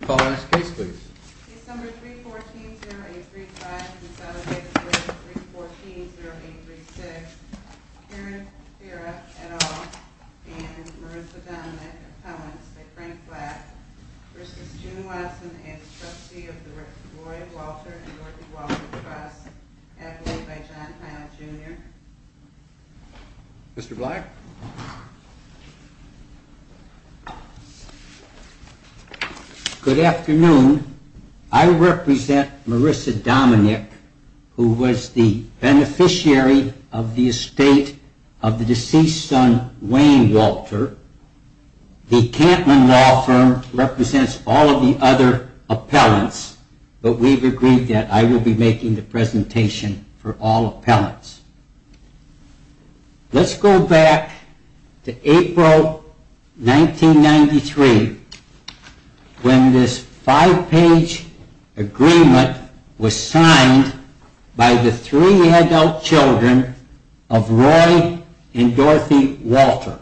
Call the next case please. December 3, 14, 0835 and Saturday, December 3, 14, 0836. Karen Pera, et al. and Marissa Dominick, appellants by Frank Black v. June Watson and the trustee of the Roy Walter and Dorothy Walter Trust Appellate by John Clown, Jr. Mr. Black. Good afternoon. I represent Marissa Dominick, who was the beneficiary of the estate of the deceased son, Wayne Walter. The Cantman Law Firm represents all of the other appellants, but we've agreed that I will be making the presentation for all appellants. Let's go back to April 1993, when this five-page agreement was signed by the three adult children of Roy and Dorothy Walter.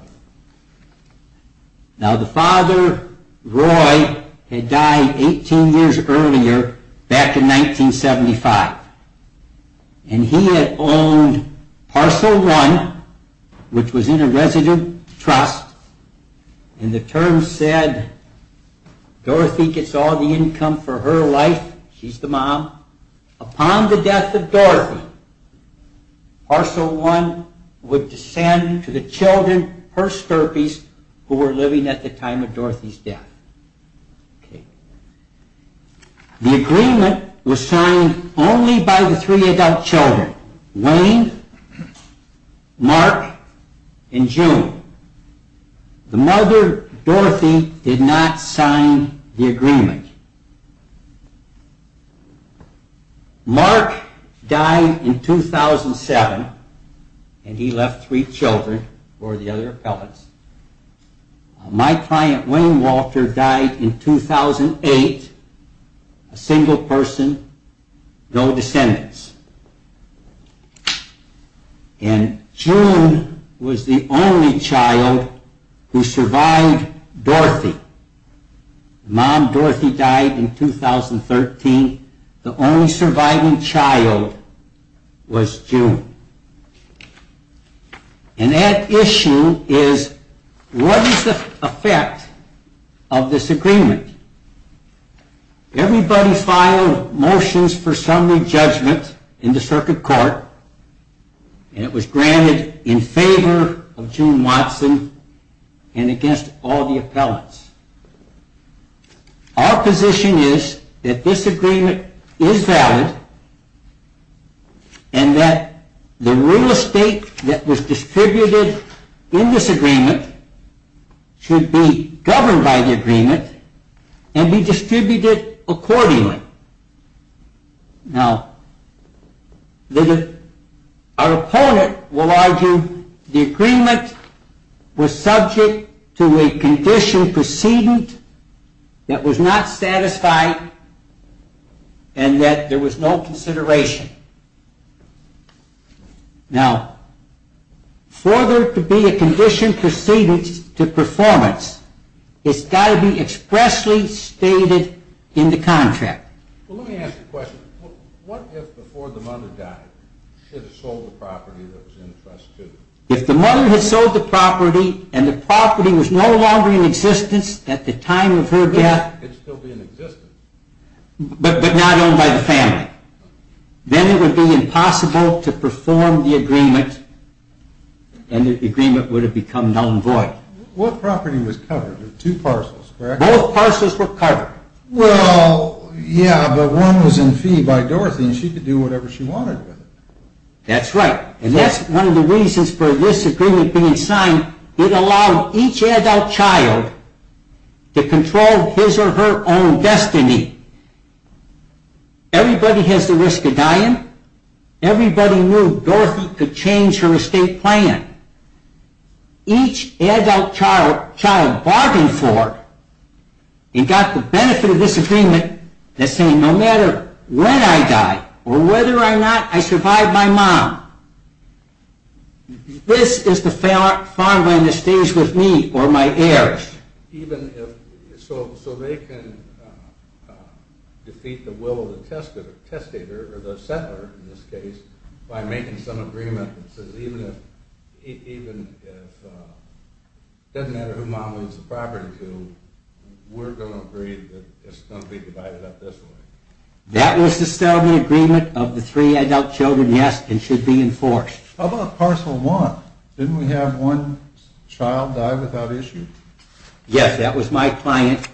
Now the father, Roy, had died 18 years earlier, back in 1975. And he had owned Parcel One, which was in a resident trust. And the terms said, Dorothy gets all the income for her life, she's the mom. Upon the death of Dorothy, Parcel One would descend to the children, her stirpees, who were living at the time of Dorothy's death. The agreement was signed only by the three adult children, Wayne, Mark, and June. The mother, Dorothy, did not sign the agreement. Mark died in 2007, and he left three children for the other appellants. My client, Wayne Walter, died in 2008, a single person, no descendants. And June was the only child who survived Dorothy. The mom, Dorothy, died in 2013. The only surviving child was June. And that issue is, what is the effect of this agreement? Everybody filed motions for summary judgment in the circuit court, and it was granted in favor of June Watson and against all the appellants. Our position is that this agreement is valid, and that the real estate that was distributed in this agreement should be governed by the agreement and be distributed accordingly. Now, our opponent will argue the agreement was subject to a condition precedent that was not satisfied and that there was no consideration. Now, for there to be a condition precedent to performance, it's got to be expressly stated in the contract. Well, let me ask you a question. What if before the mother died, she had sold the property that was in the trust too? If the mother had sold the property, and the property was no longer in existence at the time of her death. It could still be in existence. But not owned by the family. Then it would be impossible to perform the agreement, and the agreement would have become non-void. What property was covered? There were two parcels, correct? Both parcels were covered. Well, yeah, but one was in fee by Dorothy, and she could do whatever she wanted with it. That's right. And that's one of the reasons for this agreement being signed. It allowed each adult child to control his or her own destiny. Everybody has the risk of dying. Everybody knew Dorothy could change her estate plan. Each adult child bargained for and got the benefit of this agreement that's saying no matter when I die or whether or not I survive my mom, this is the farmland that stays with me or my heirs. So they can defeat the will of the testator, or the settler in this case, by making some agreement that says even if it doesn't matter who mom leaves the property to, we're going to agree that it's going to be divided up this way. That was to sell the agreement of the three adult children, yes, and should be enforced. How about parcel one? Didn't we have one child die without issue? Yes, that was my client.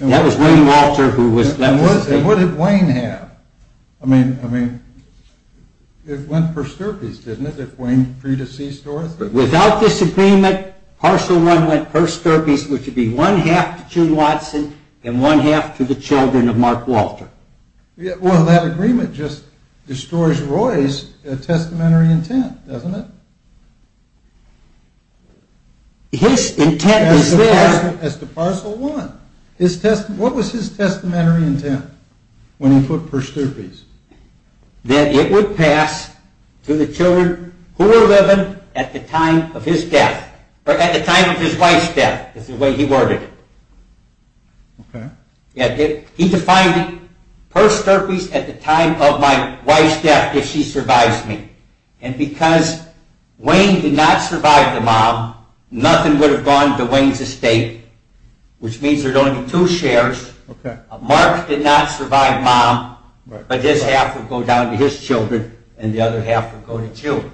That was Wayne Walter who was left to stay. And what did Wayne have? I mean, it went per stirpes, didn't it, if Wayne pre-deceased Dorothy? Without this agreement, parcel one went per stirpes, which would be one-half to June Watson and one-half to the children of Mark Walter. Well, that agreement just destroys Roy's testamentary intent, doesn't it? His intent was there. As to parcel one, what was his testamentary intent when he put per stirpes? That it would pass to the children who were living at the time of his death, or at the time of his wife's death, is the way he worded it. Okay. He defined it per stirpes at the time of my wife's death if she survives me. And because Wayne did not survive the mom, nothing would have gone to Wayne's estate, which means there would only be two shares. Mark did not survive mom, but this half would go down to his children and the other half would go to June.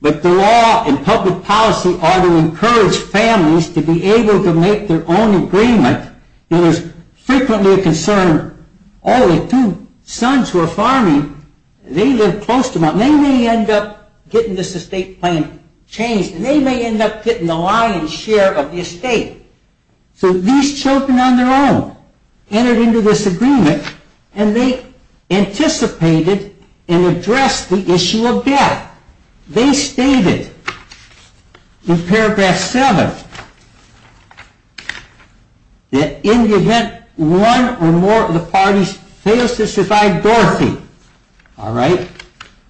But the law and public policy are to encourage families to be able to make their own agreement. You know, there's frequently a concern, oh, the two sons who are farming, they live close to mom. They may end up getting this estate plan changed and they may end up getting the lion's share of the estate. So these children on their own entered into this agreement and they anticipated and addressed the issue of death. Now, they stated in paragraph 7 that in the event one or more of the parties fails to survive Dorothy,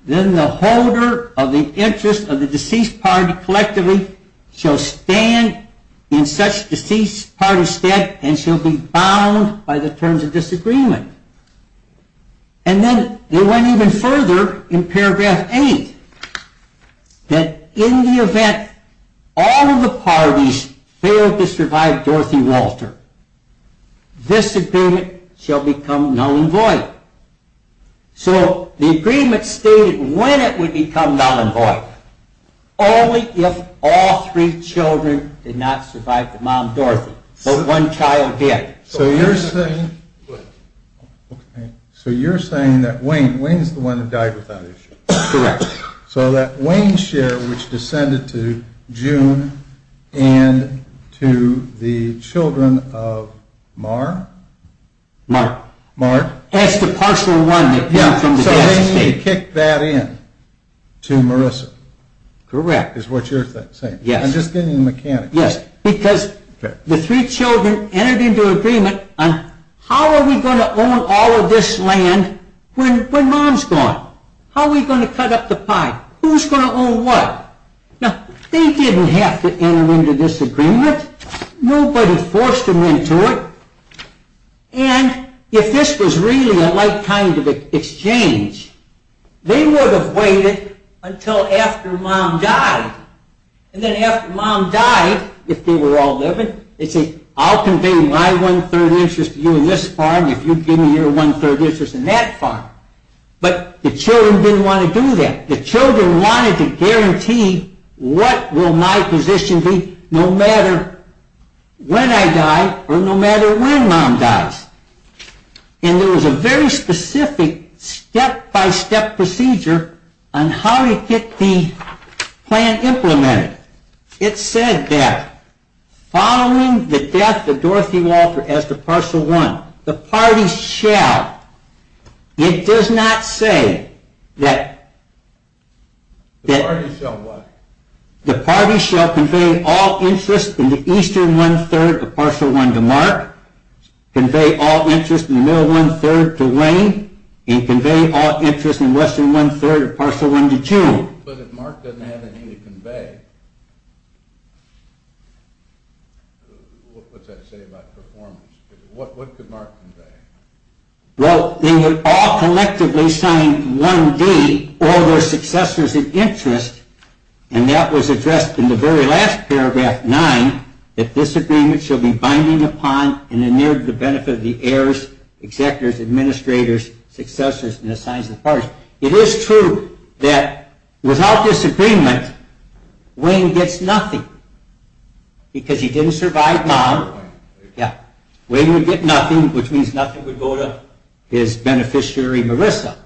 then the holder of the interest of the deceased party collectively shall stand in such deceased party's stead and shall be bound by the terms of disagreement. And then they went even further in paragraph 8 that in the event all of the parties fail to survive Dorothy Walter, this agreement shall become null and void. So the agreement stated when it would become null and void, only if all three children did not survive the mom, Dorothy, but one child did. So you're saying that Wayne, Wayne's the one that died without issue. Correct. So that Wayne's share which descended to June and to the children of Mar? Mark. Mark. That's the partial one that came from the dad's estate. Yeah, so they need to kick that in to Marissa. Correct. Is what you're saying. Yes. I'm just getting the mechanics. Yes, because the three children entered into agreement on how are we going to own all of this land when mom's gone? How are we going to cut up the pie? Who's going to own what? Now, they didn't have to enter into this agreement. Nobody forced them into it. And if this was really a like kind of exchange, they would have waited until after mom died. And then after mom died, if they were all living, they'd say, I'll convey my one-third interest to you in this farm if you give me your one-third interest in that farm. But the children didn't want to do that. The children wanted to guarantee what will my position be no matter when I die or no matter when mom dies. And there was a very specific step-by-step procedure on how to get the plan implemented. It said that following the death of Dorothy Walter as the partial one, the party shall. It does not say that. The party shall what? The party shall convey all interest in the eastern one-third of partial one to Mark, convey all interest in the middle one-third to Wayne, and convey all interest in western one-third of partial one to June. But if Mark doesn't have anything to convey, what's that say about performance? What could Mark convey? Well, they would all collectively sign 1D, all their successors in interest, and that was addressed in the very last paragraph, 9, that this agreement shall be binding upon and in the name of the benefit of the heirs, executors, administrators, successors, and the signs of the partial. It is true that without this agreement, Wayne gets nothing because he didn't survive mom. Wayne would get nothing, which means nothing would go to his beneficiary, Marissa.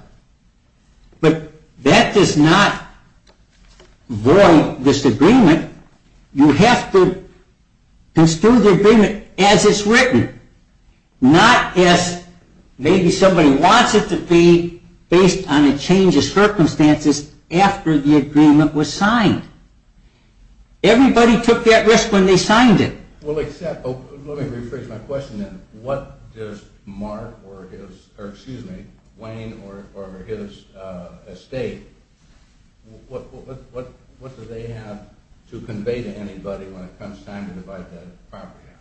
But that does not void this agreement. You have to construe the agreement as it's written, not as maybe somebody wants it to be based on a change of circumstances after the agreement was signed. Everybody took that risk when they signed it. Well, except, let me rephrase my question then. What does Mark or his, or excuse me, Wayne or his estate, what do they have to convey to anybody when it comes time to divide that property out?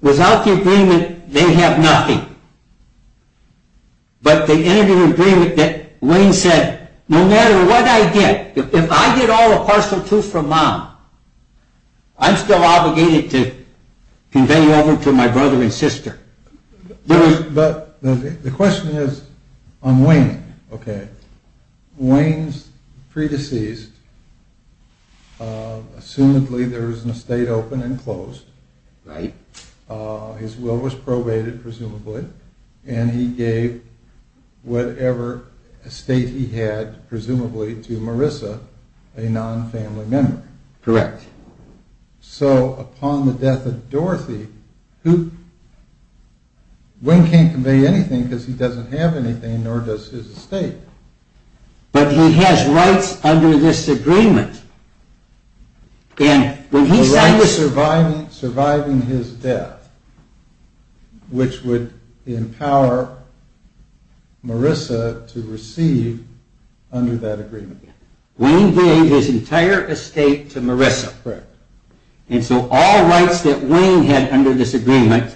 Without the agreement, they have nothing. But the end of the agreement that Wayne said, no matter what I get, if I get all the partial too from mom, I'm still obligated to convey over to my brother and sister. But the question is on Wayne. Wayne's pre-deceased, assumedly there was an estate open and closed. His will was probated, presumably, and he gave whatever estate he had, presumably, to Marissa, a non-family member. Correct. So upon the death of Dorothy, Wayne can't convey anything because he doesn't have anything, nor does his estate. But he has rights under this agreement. The rights surviving his death, which would empower Marissa to receive under that agreement. Wayne gave his entire estate to Marissa. Correct. And so all rights that Wayne had under this agreement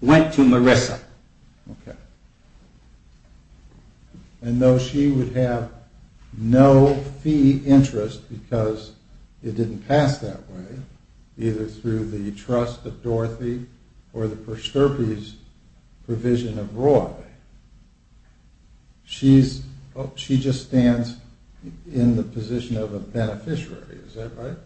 went to Marissa. Okay. And though she would have no fee interest because it didn't pass that way, either through the trust of Dorothy or the Posterpi's provision of Roy, she just stands in the position of a beneficiary, is that right?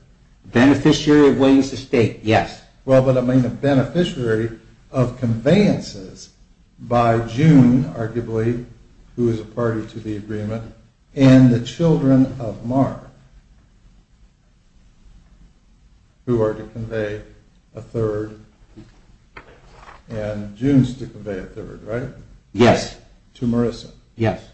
Beneficiary of Wayne's estate, yes. Well, but I mean a beneficiary of conveyances by June, arguably, who is a party to the agreement, and the children of Mark, who are to convey a third, and June is to convey a third, right? Yes. To Marissa. Yes.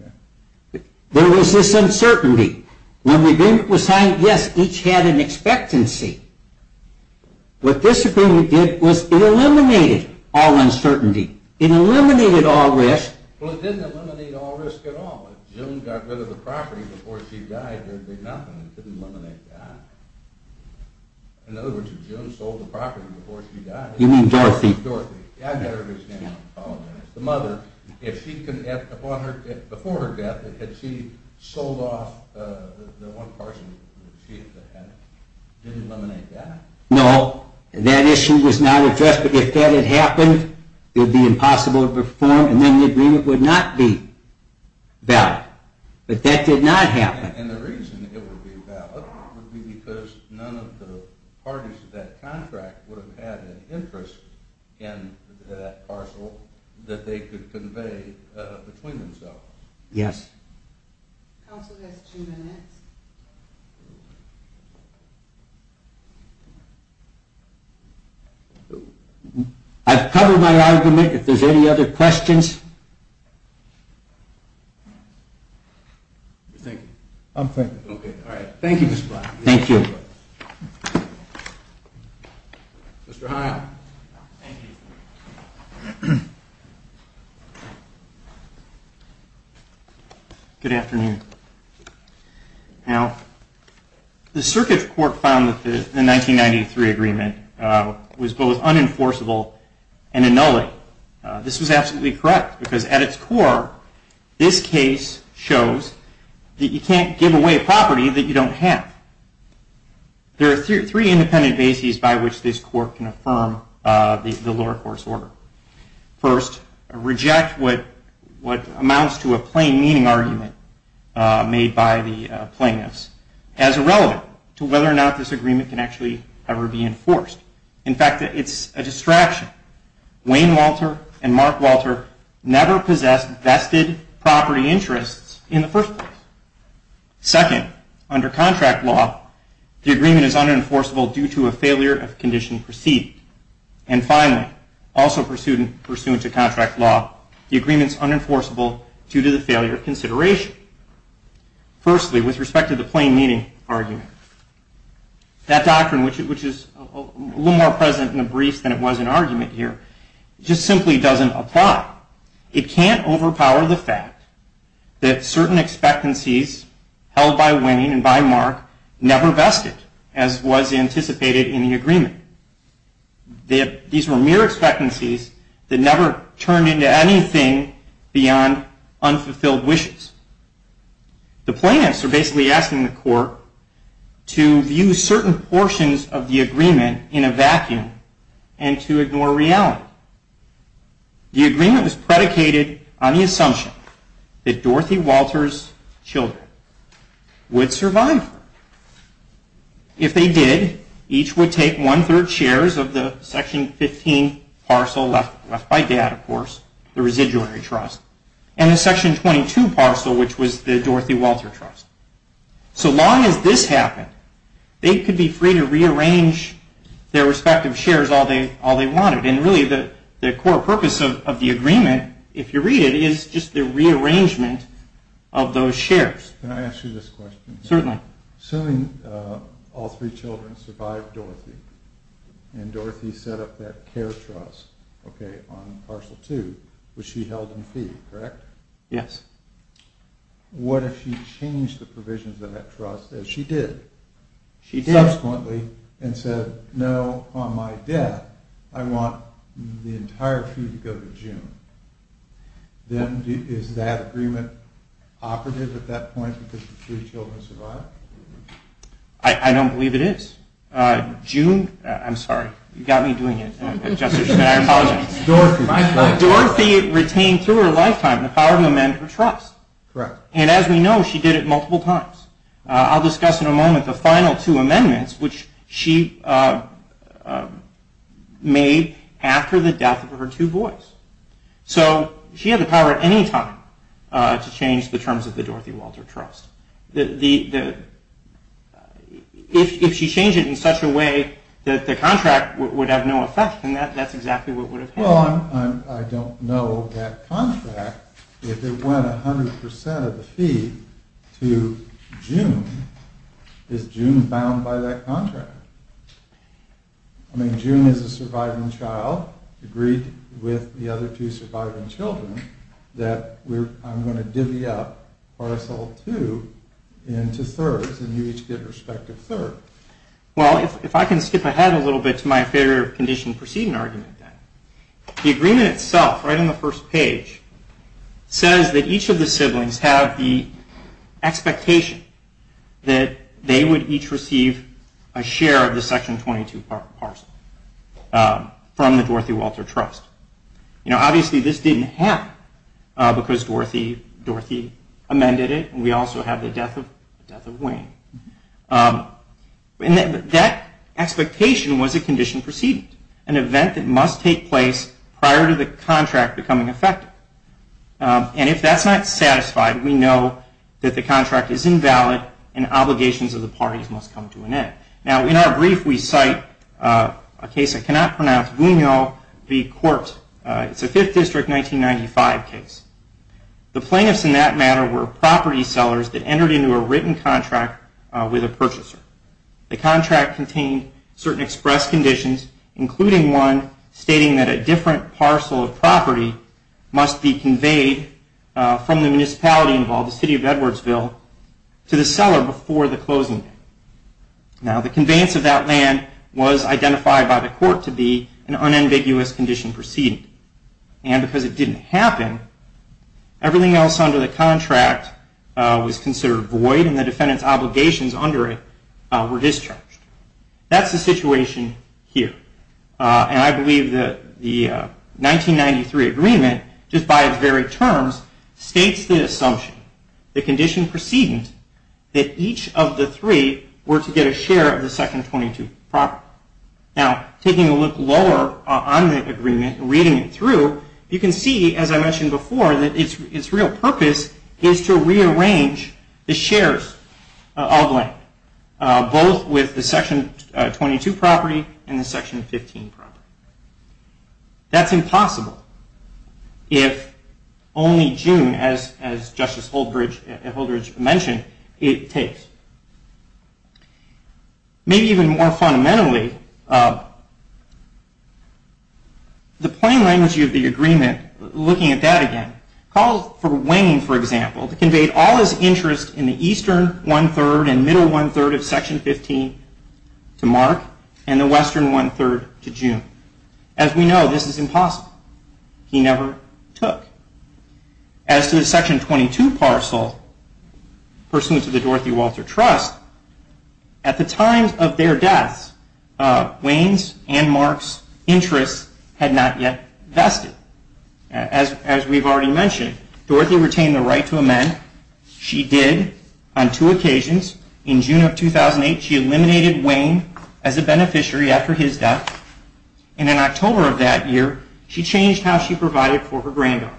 Okay. There was this uncertainty. When the agreement was signed, yes, each had an expectancy. What this agreement did was it eliminated all uncertainty. It eliminated all risk. Well, it didn't eliminate all risk at all. If June got rid of the property before she died, there would be nothing. It didn't eliminate that. In other words, if June sold the property before she died. You mean Dorothy? Dorothy. I better understand that. I apologize. The mother, if she, before her death, had she sold off the one parcel that she had, it didn't eliminate that? No. That issue was not addressed. But if that had happened, it would be impossible to perform, and then the agreement would not be valid. But that did not happen. And the reason it would be valid would be because none of the parties to that contract would have had an interest in that parcel that they could convey between themselves. Yes. Counsel has two minutes. I've covered my argument. If there's any other questions. You're thinking. I'm thinking. Okay. All right. Thank you, Mr. Black. Thank you. Mr. Hyatt. Thank you. Good afternoon. Now, the Circuit Court found that the 1993 agreement was both unenforceable and annulling. This was absolutely correct. Because at its core, this case shows that you can't give away property that you don't have. There are three independent bases by which this court can affirm the lower court's order. First, reject what amounts to a plain meaning argument made by the plaintiffs as irrelevant to whether or not this agreement can actually ever be enforced. In fact, it's a distraction. Wayne Walter and Mark Walter never possessed vested property interests in the first place. Second, under contract law, the agreement is unenforceable due to a failure of condition perceived. And finally, also pursuant to contract law, the agreement is unenforceable due to the failure of consideration. Firstly, with respect to the plain meaning argument, that doctrine, which is a little more present in the briefs than it was in argument here, just simply doesn't apply. It can't overpower the fact that certain expectancies held by Wayne and by Mark never vested as was anticipated in the agreement. These were mere expectancies that never turned into anything beyond unfulfilled wishes. The plaintiffs are basically asking the court to view certain portions of the agreement in a vacuum and to ignore reality. The agreement was predicated on the assumption that Dorothy Walters' children would survive. If they did, each would take one third shares of the section 15 parcel left by my dad, of course, the Residualary Trust, and the section 22 parcel, which was the Dorothy Walter Trust. So long as this happened, they could be free to rearrange their respective shares all they wanted. And really the core purpose of the agreement, if you read it, is just the rearrangement of those shares. Can I ask you this question? Certainly. Assuming all three children survived Dorothy and Dorothy set up that care trust, okay, on parcel two, which she held in fee, correct? Yes. What if she changed the provisions of that trust, as she did? She did. Subsequently, and said, no, on my debt, I want the entire fee to go to June. Then is that agreement operative at that point because the three children survived? I don't believe it is. I'm sorry. You got me doing it. I apologize. Dorothy retained through her lifetime the power to amend her trust. Correct. And as we know, she did it multiple times. I'll discuss in a moment the final two amendments, which she made after the death of her two boys. So she had the power at any time to change the terms of the Dorothy Walter Trust. If she changed it in such a way that the contract would have no effect, then that's exactly what would have happened. Well, I don't know that contract. If it went 100% of the fee to June, is June bound by that contract? I mean, June is a surviving child, agreed with the other two surviving children that I'm going to divvy up parcel two into thirds, and you each get a respective third. Well, if I can skip ahead a little bit to my favor of condition proceeding argument, then. The agreement itself, right on the first page, says that each of the siblings have the expectation that they would each receive a share of the section 22 parcel from the Dorothy Walter Trust. Obviously, this didn't happen because Dorothy amended it, and we also have the death of Wayne. That expectation was a condition proceeding, an event that must take place prior to the contract becoming effective. And if that's not satisfied, we know that the contract is invalid and obligations of the parties must come to an end. Now, in our brief, we cite a case I cannot pronounce, the court, it's a Fifth District 1995 case. The plaintiffs in that matter were property sellers that entered into a written contract with a purchaser. The contract contained certain express conditions, including one stating that a different parcel of property must be conveyed from the municipality involved, the city of Edwardsville, to the seller before the closing date. Now, the conveyance of that land was identified by the court to be an unambiguous condition proceeding. And because it didn't happen, everything else under the contract was considered void and the defendant's obligations under it were discharged. That's the situation here. And I believe that the 1993 agreement, just by its very terms, states the assumption, the condition proceeding, that each of the three were to get a share of the Section 22 property. Now, taking a look lower on the agreement, reading it through, you can see, as I mentioned before, that its real purpose is to rearrange the shares of land, both with the Section 22 property and the Section 15 property. That's impossible if only June, as Justice Holdridge mentioned, it takes. Maybe even more fundamentally, the plain language of the agreement, looking at that again, called for Wayne, for example, to convey all his interest in the eastern one-third and middle one-third of Section 15 to Mark and the western one-third to June. As we know, this is impossible. He never took. As to the Section 22 parcel pursuant to the Dorothy Walter Trust, at the time of their deaths, Wayne's and Mark's interests had not yet vested. As we've already mentioned, Dorothy retained the right to amend. She did on two occasions. In June of 2008, she eliminated Wayne as a beneficiary after his death. In October of that year, she changed how she provided for her granddaughters.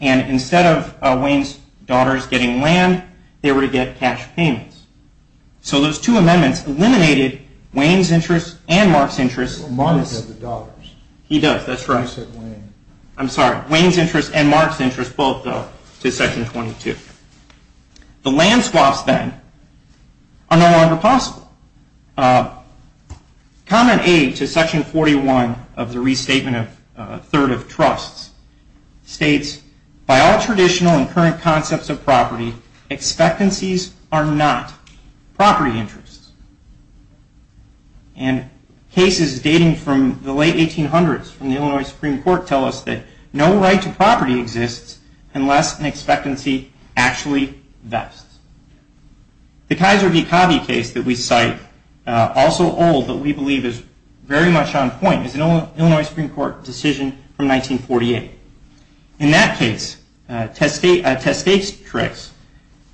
Instead of Wayne's daughters getting land, they were to get cash payments. Those two amendments eliminated Wayne's interests and Mark's interests. Mark has the dollars. He does, that's right. You said Wayne. I'm sorry. Wayne's interests and Mark's interests both go to Section 22. The land swaps, then, are no longer possible. Comment A to Section 41 of the Restatement of Third of Trusts states, by all traditional and current concepts of property, expectancies are not property interests. Cases dating from the late 1800s from the Illinois Supreme Court tell us that no right to property exists unless an expectancy actually vests. The Kaiser v. Covey case that we cite, also old, but we believe is very much on point, is an Illinois Supreme Court decision from 1948. In that case, a testatrix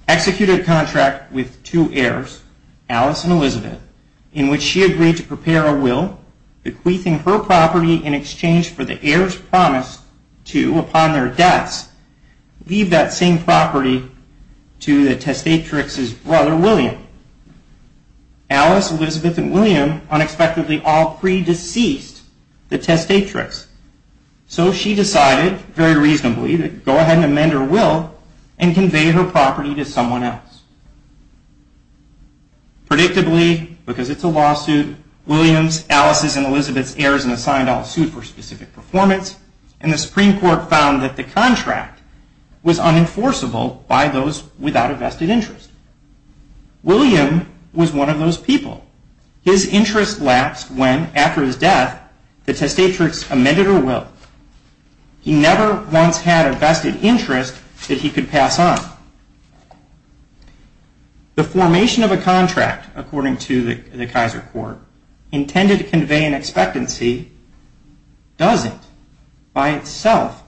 executed a contract with two heirs, Alice and Elizabeth, in which she agreed to prepare a will, bequeathing her property in exchange for the heirs' promise to, upon their deaths, leave that same property to the testatrix's brother, William. Alice, Elizabeth, and William unexpectedly all pre-deceased the testatrix. So she decided, very reasonably, to go ahead and amend her will and convey her property to someone else. Predictably, because it's a lawsuit, William's, Alice's, and Elizabeth's heirs were assigned all sued for specific performance, and the Supreme Court found that the contract was unenforceable by those without a vested interest. William was one of those people. His interest lapsed when, after his death, the testatrix amended her will. He never once had a vested interest that he could pass on. The formation of a contract, according to the Kaiser court, intended to convey an expectancy, doesn't, by itself,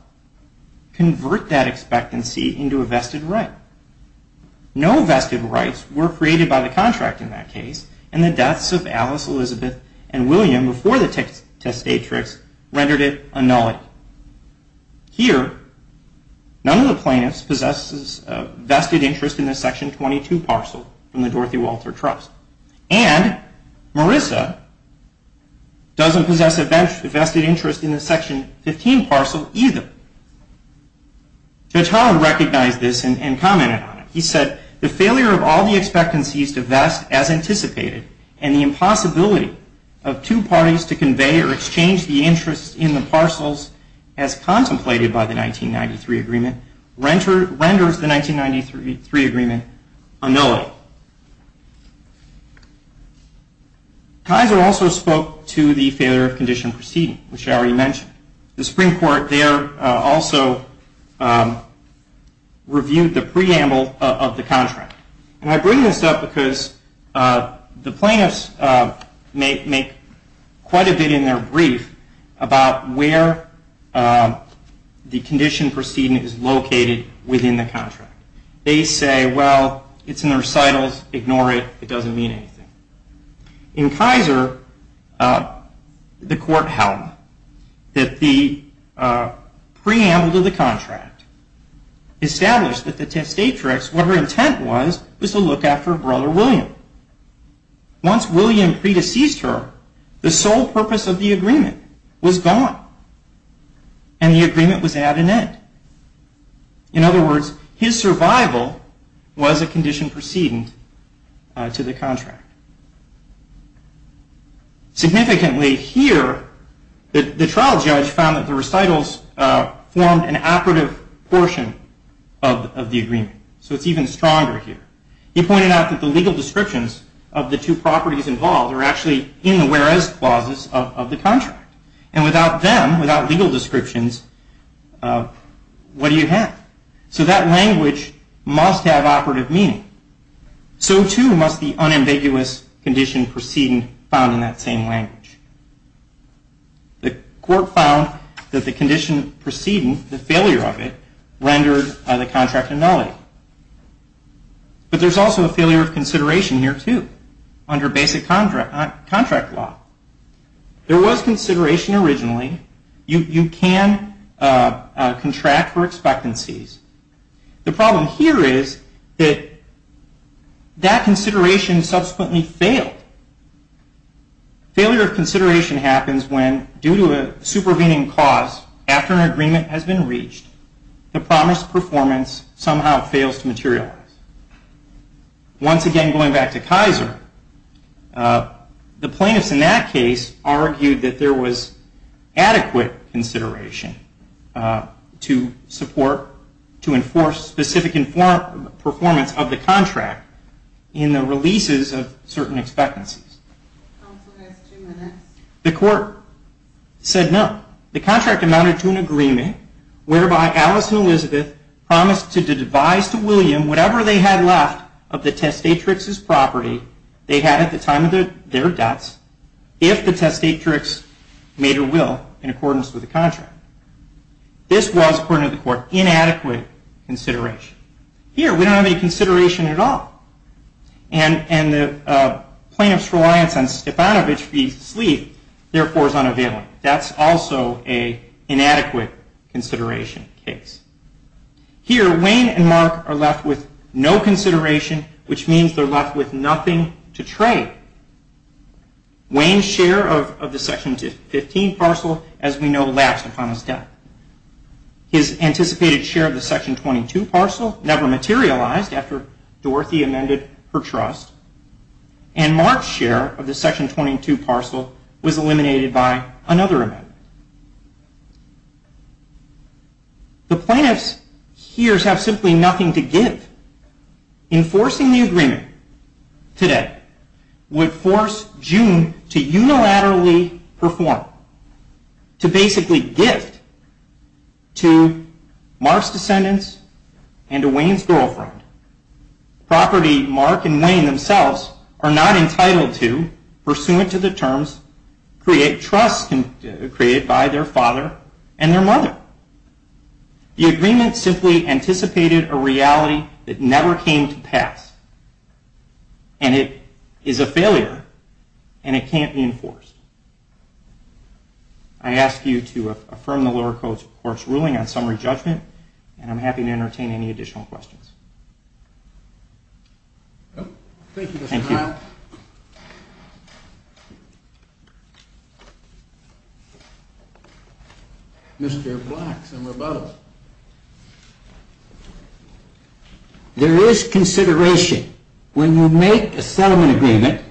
convert that expectancy into a vested right. No vested rights were created by the contract in that case, and the deaths of Alice, Elizabeth, and William before the testatrix rendered it a nullity. Here, none of the plaintiffs possesses a vested interest in the Section 22 parcel from the Dorothy Walter Trust. And Marissa doesn't possess a vested interest in the Section 15 parcel, either. Judge Holland recognized this and commented on it. He said, the failure of all the expectancies to vest as anticipated, and the impossibility of two parties to convey or exchange the interest in the parcels as contemplated by the 1993 agreement, renders the 1993 agreement a nullity. Kaiser also spoke to the failure of condition proceeding, which I already mentioned. The Supreme Court there also reviewed the preamble of the contract. And I bring this up because the plaintiffs make quite a bit in their brief about where the condition proceeding is located within the contract. They say, well, it's in the recitals. Ignore it. It doesn't mean anything. In Kaiser, the court held that the preamble to the contract established that the testatrix, what her intent was, was to look after her brother William. Once William predeceased her, the sole purpose of the agreement was gone. And the agreement was at an end. In other words, his survival was a condition proceeding to the contract. Significantly here, the trial judge found that the recitals formed an operative portion of the agreement. So it's even stronger here. He pointed out that the legal descriptions of the two properties involved are actually in the whereas clauses of the contract. And without them, without legal descriptions, what do you have? So that language must have operative meaning. So, too, must the unambiguous condition proceeding found in that same language. The court found that the condition proceeding, the failure of it, rendered by the contract a nullity. But there's also a failure of consideration here, too, under basic contract law. There was consideration originally. You can contract for expectancies. The problem here is that that consideration subsequently failed. Failure of consideration happens when, due to a supervening cause, after an agreement has been reached, the promised performance somehow fails to materialize. Once again, going back to Kaiser, the plaintiffs in that case argued that there was adequate consideration to support, to enforce specific performance of the contract in the releases of certain expectancies. The court said no. The contract amounted to an agreement whereby Alice and Elizabeth promised to devise to William whatever they had left of the testatrix's property they had at the time of their deaths if the testatrix made her will in accordance with the contract. This was, according to the court, inadequate consideration. Here, we don't have any consideration at all. And the plaintiff's reliance on Stepanovich's leave, therefore, is unavailable. That's also an inadequate consideration case. Here, Wayne and Mark are left with no consideration, which means they're left with nothing to trade. Wayne's share of the Section 15 parcel, as we know, lapsed upon his death. His anticipated share of the Section 22 parcel never materialized after Dorothy amended her trust. And Mark's share of the Section 22 parcel was eliminated by another amendment. The plaintiff's hears have simply nothing to give. Enforcing the agreement today would force June to unilaterally perform, to basically gift to Mark's descendants and to Wayne's girlfriend, property Mark and Wayne themselves are not entitled to, pursuant to the terms created by their father and their mother. The agreement simply anticipated a reality that never came to pass, and it is a failure, and it can't be enforced. I ask you to affirm the lower court's ruling on summary judgment, and I'm happy to entertain any additional questions. Thank you, Mr. Knapp. Mr. Black, somewhere above. There is consideration. When you make a settlement agreement,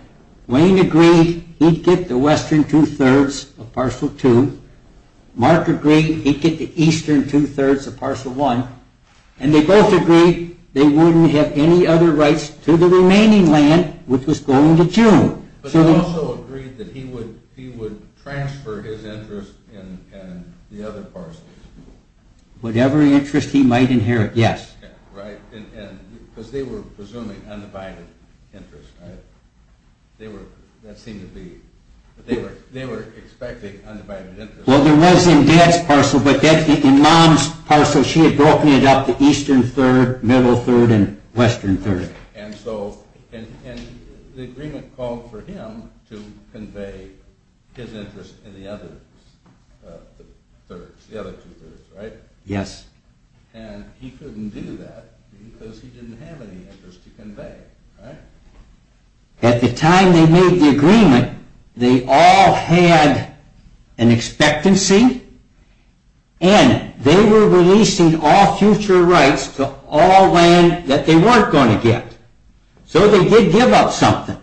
Wayne agreed he'd get the western two-thirds of parcel two, Mark agreed he'd get the eastern two-thirds of parcel one, and they both agreed they wouldn't have any other rights to the remaining land, which was going to June. But they also agreed that he would transfer his interest in the other parcels. Whatever interest he might inherit, yes. Right, because they were presuming undivided interest, right? They were expecting undivided interest. Well, there was in Dad's parcel, but in Mom's parcel, she had broken it up to eastern third, middle third, and western third. And so the agreement called for him to convey his interest in the other thirds, the other two-thirds, right? Yes. And he couldn't do that because he didn't have any interest to convey, right? At the time they made the agreement, they all had an expectancy, and they were releasing all future rights to all land that they weren't going to get. So they did give up something.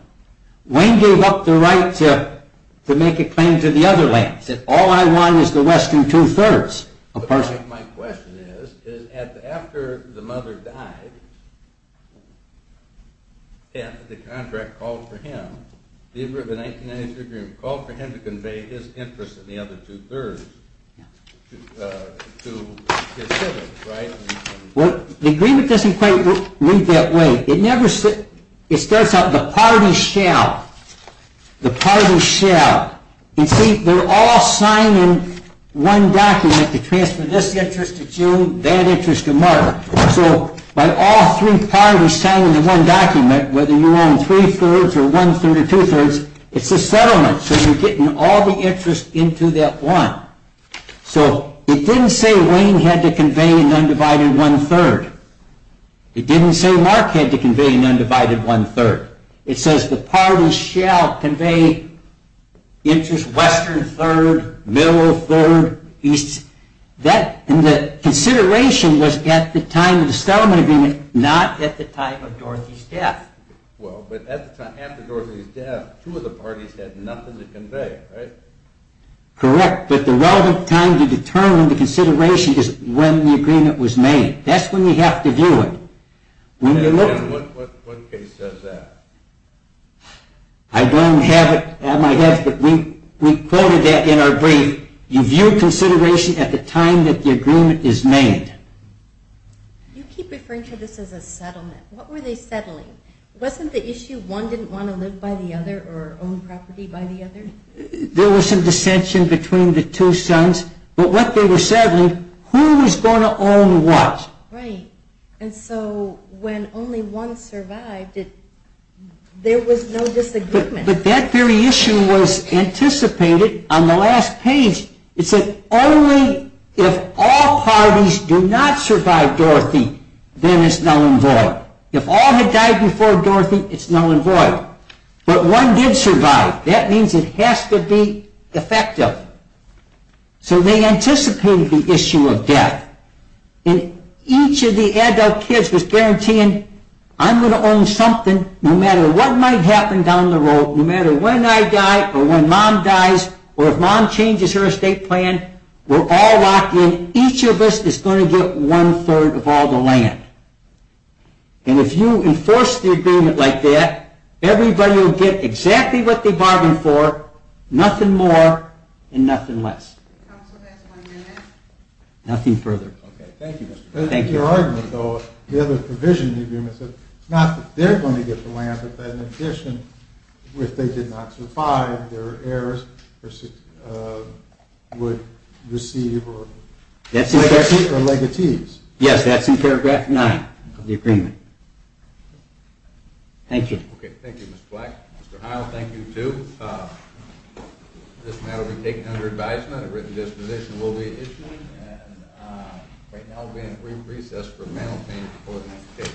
Wayne gave up the right to make a claim to the other lands. He said, all I want is the western two-thirds of parcel two. My question is, after the mother died, the contract called for him, the agreement of the 1990s called for him to convey his interest in the other two-thirds to his siblings, right? Well, the agreement doesn't quite lead that way. It starts out, the party shall. The party shall. You see, they're all signing one document to transfer this interest to June, that interest to Mark. So by all three parties signing the one document, whether you're on three-thirds or one-third or two-thirds, it's a settlement. So you're getting all the interest into that one. So it didn't say Wayne had to convey an undivided one-third. It didn't say Mark had to convey an undivided one-third. It says the party shall convey interest western third, middle third, east. And the consideration was at the time of the settlement agreement, not at the time of Dorothy's death. Well, but at the time, after Dorothy's death, two of the parties had nothing to convey, right? Correct. But the relevant time to determine the consideration is when the agreement was made. That's when you have to do it. And what case says that? I don't have it at my desk, but we quoted that in our brief. You view consideration at the time that the agreement is made. You keep referring to this as a settlement. What were they settling? Wasn't the issue one didn't want to live by the other or own property by the other? There was some dissension between the two sons. But what they were settling, who was going to own what. Right. And so when only one survived, there was no disagreement. But that very issue was anticipated on the last page. It said only if all parties do not survive Dorothy, then it's null and void. If all had died before Dorothy, it's null and void. But one did survive. That means it has to be effective. So they anticipated the issue of death. And each of the adult kids was guaranteeing, I'm going to own something no matter what might happen down the road, no matter when I die or when Mom dies or if Mom changes her estate plan. We're all locked in. Each of us is going to get one-third of all the land. And if you enforce the agreement like that, everybody will get exactly what they bargained for, nothing more and nothing less. Counsel, that's one minute. Nothing further. Okay, thank you, Mr. Black. Thank you. In your argument, though, the other provision in the agreement said it's not that they're going to get the land, but that in addition, if they did not survive, their heirs would receive legacies. Yes, that's in paragraph 9 of the agreement. Thank you. Okay, thank you, Mr. Black. Mr. Heil, thank you, too. This matter will be taken under advisement. A written disposition will be issued. And right now we're in brief recess for mental pain coordination.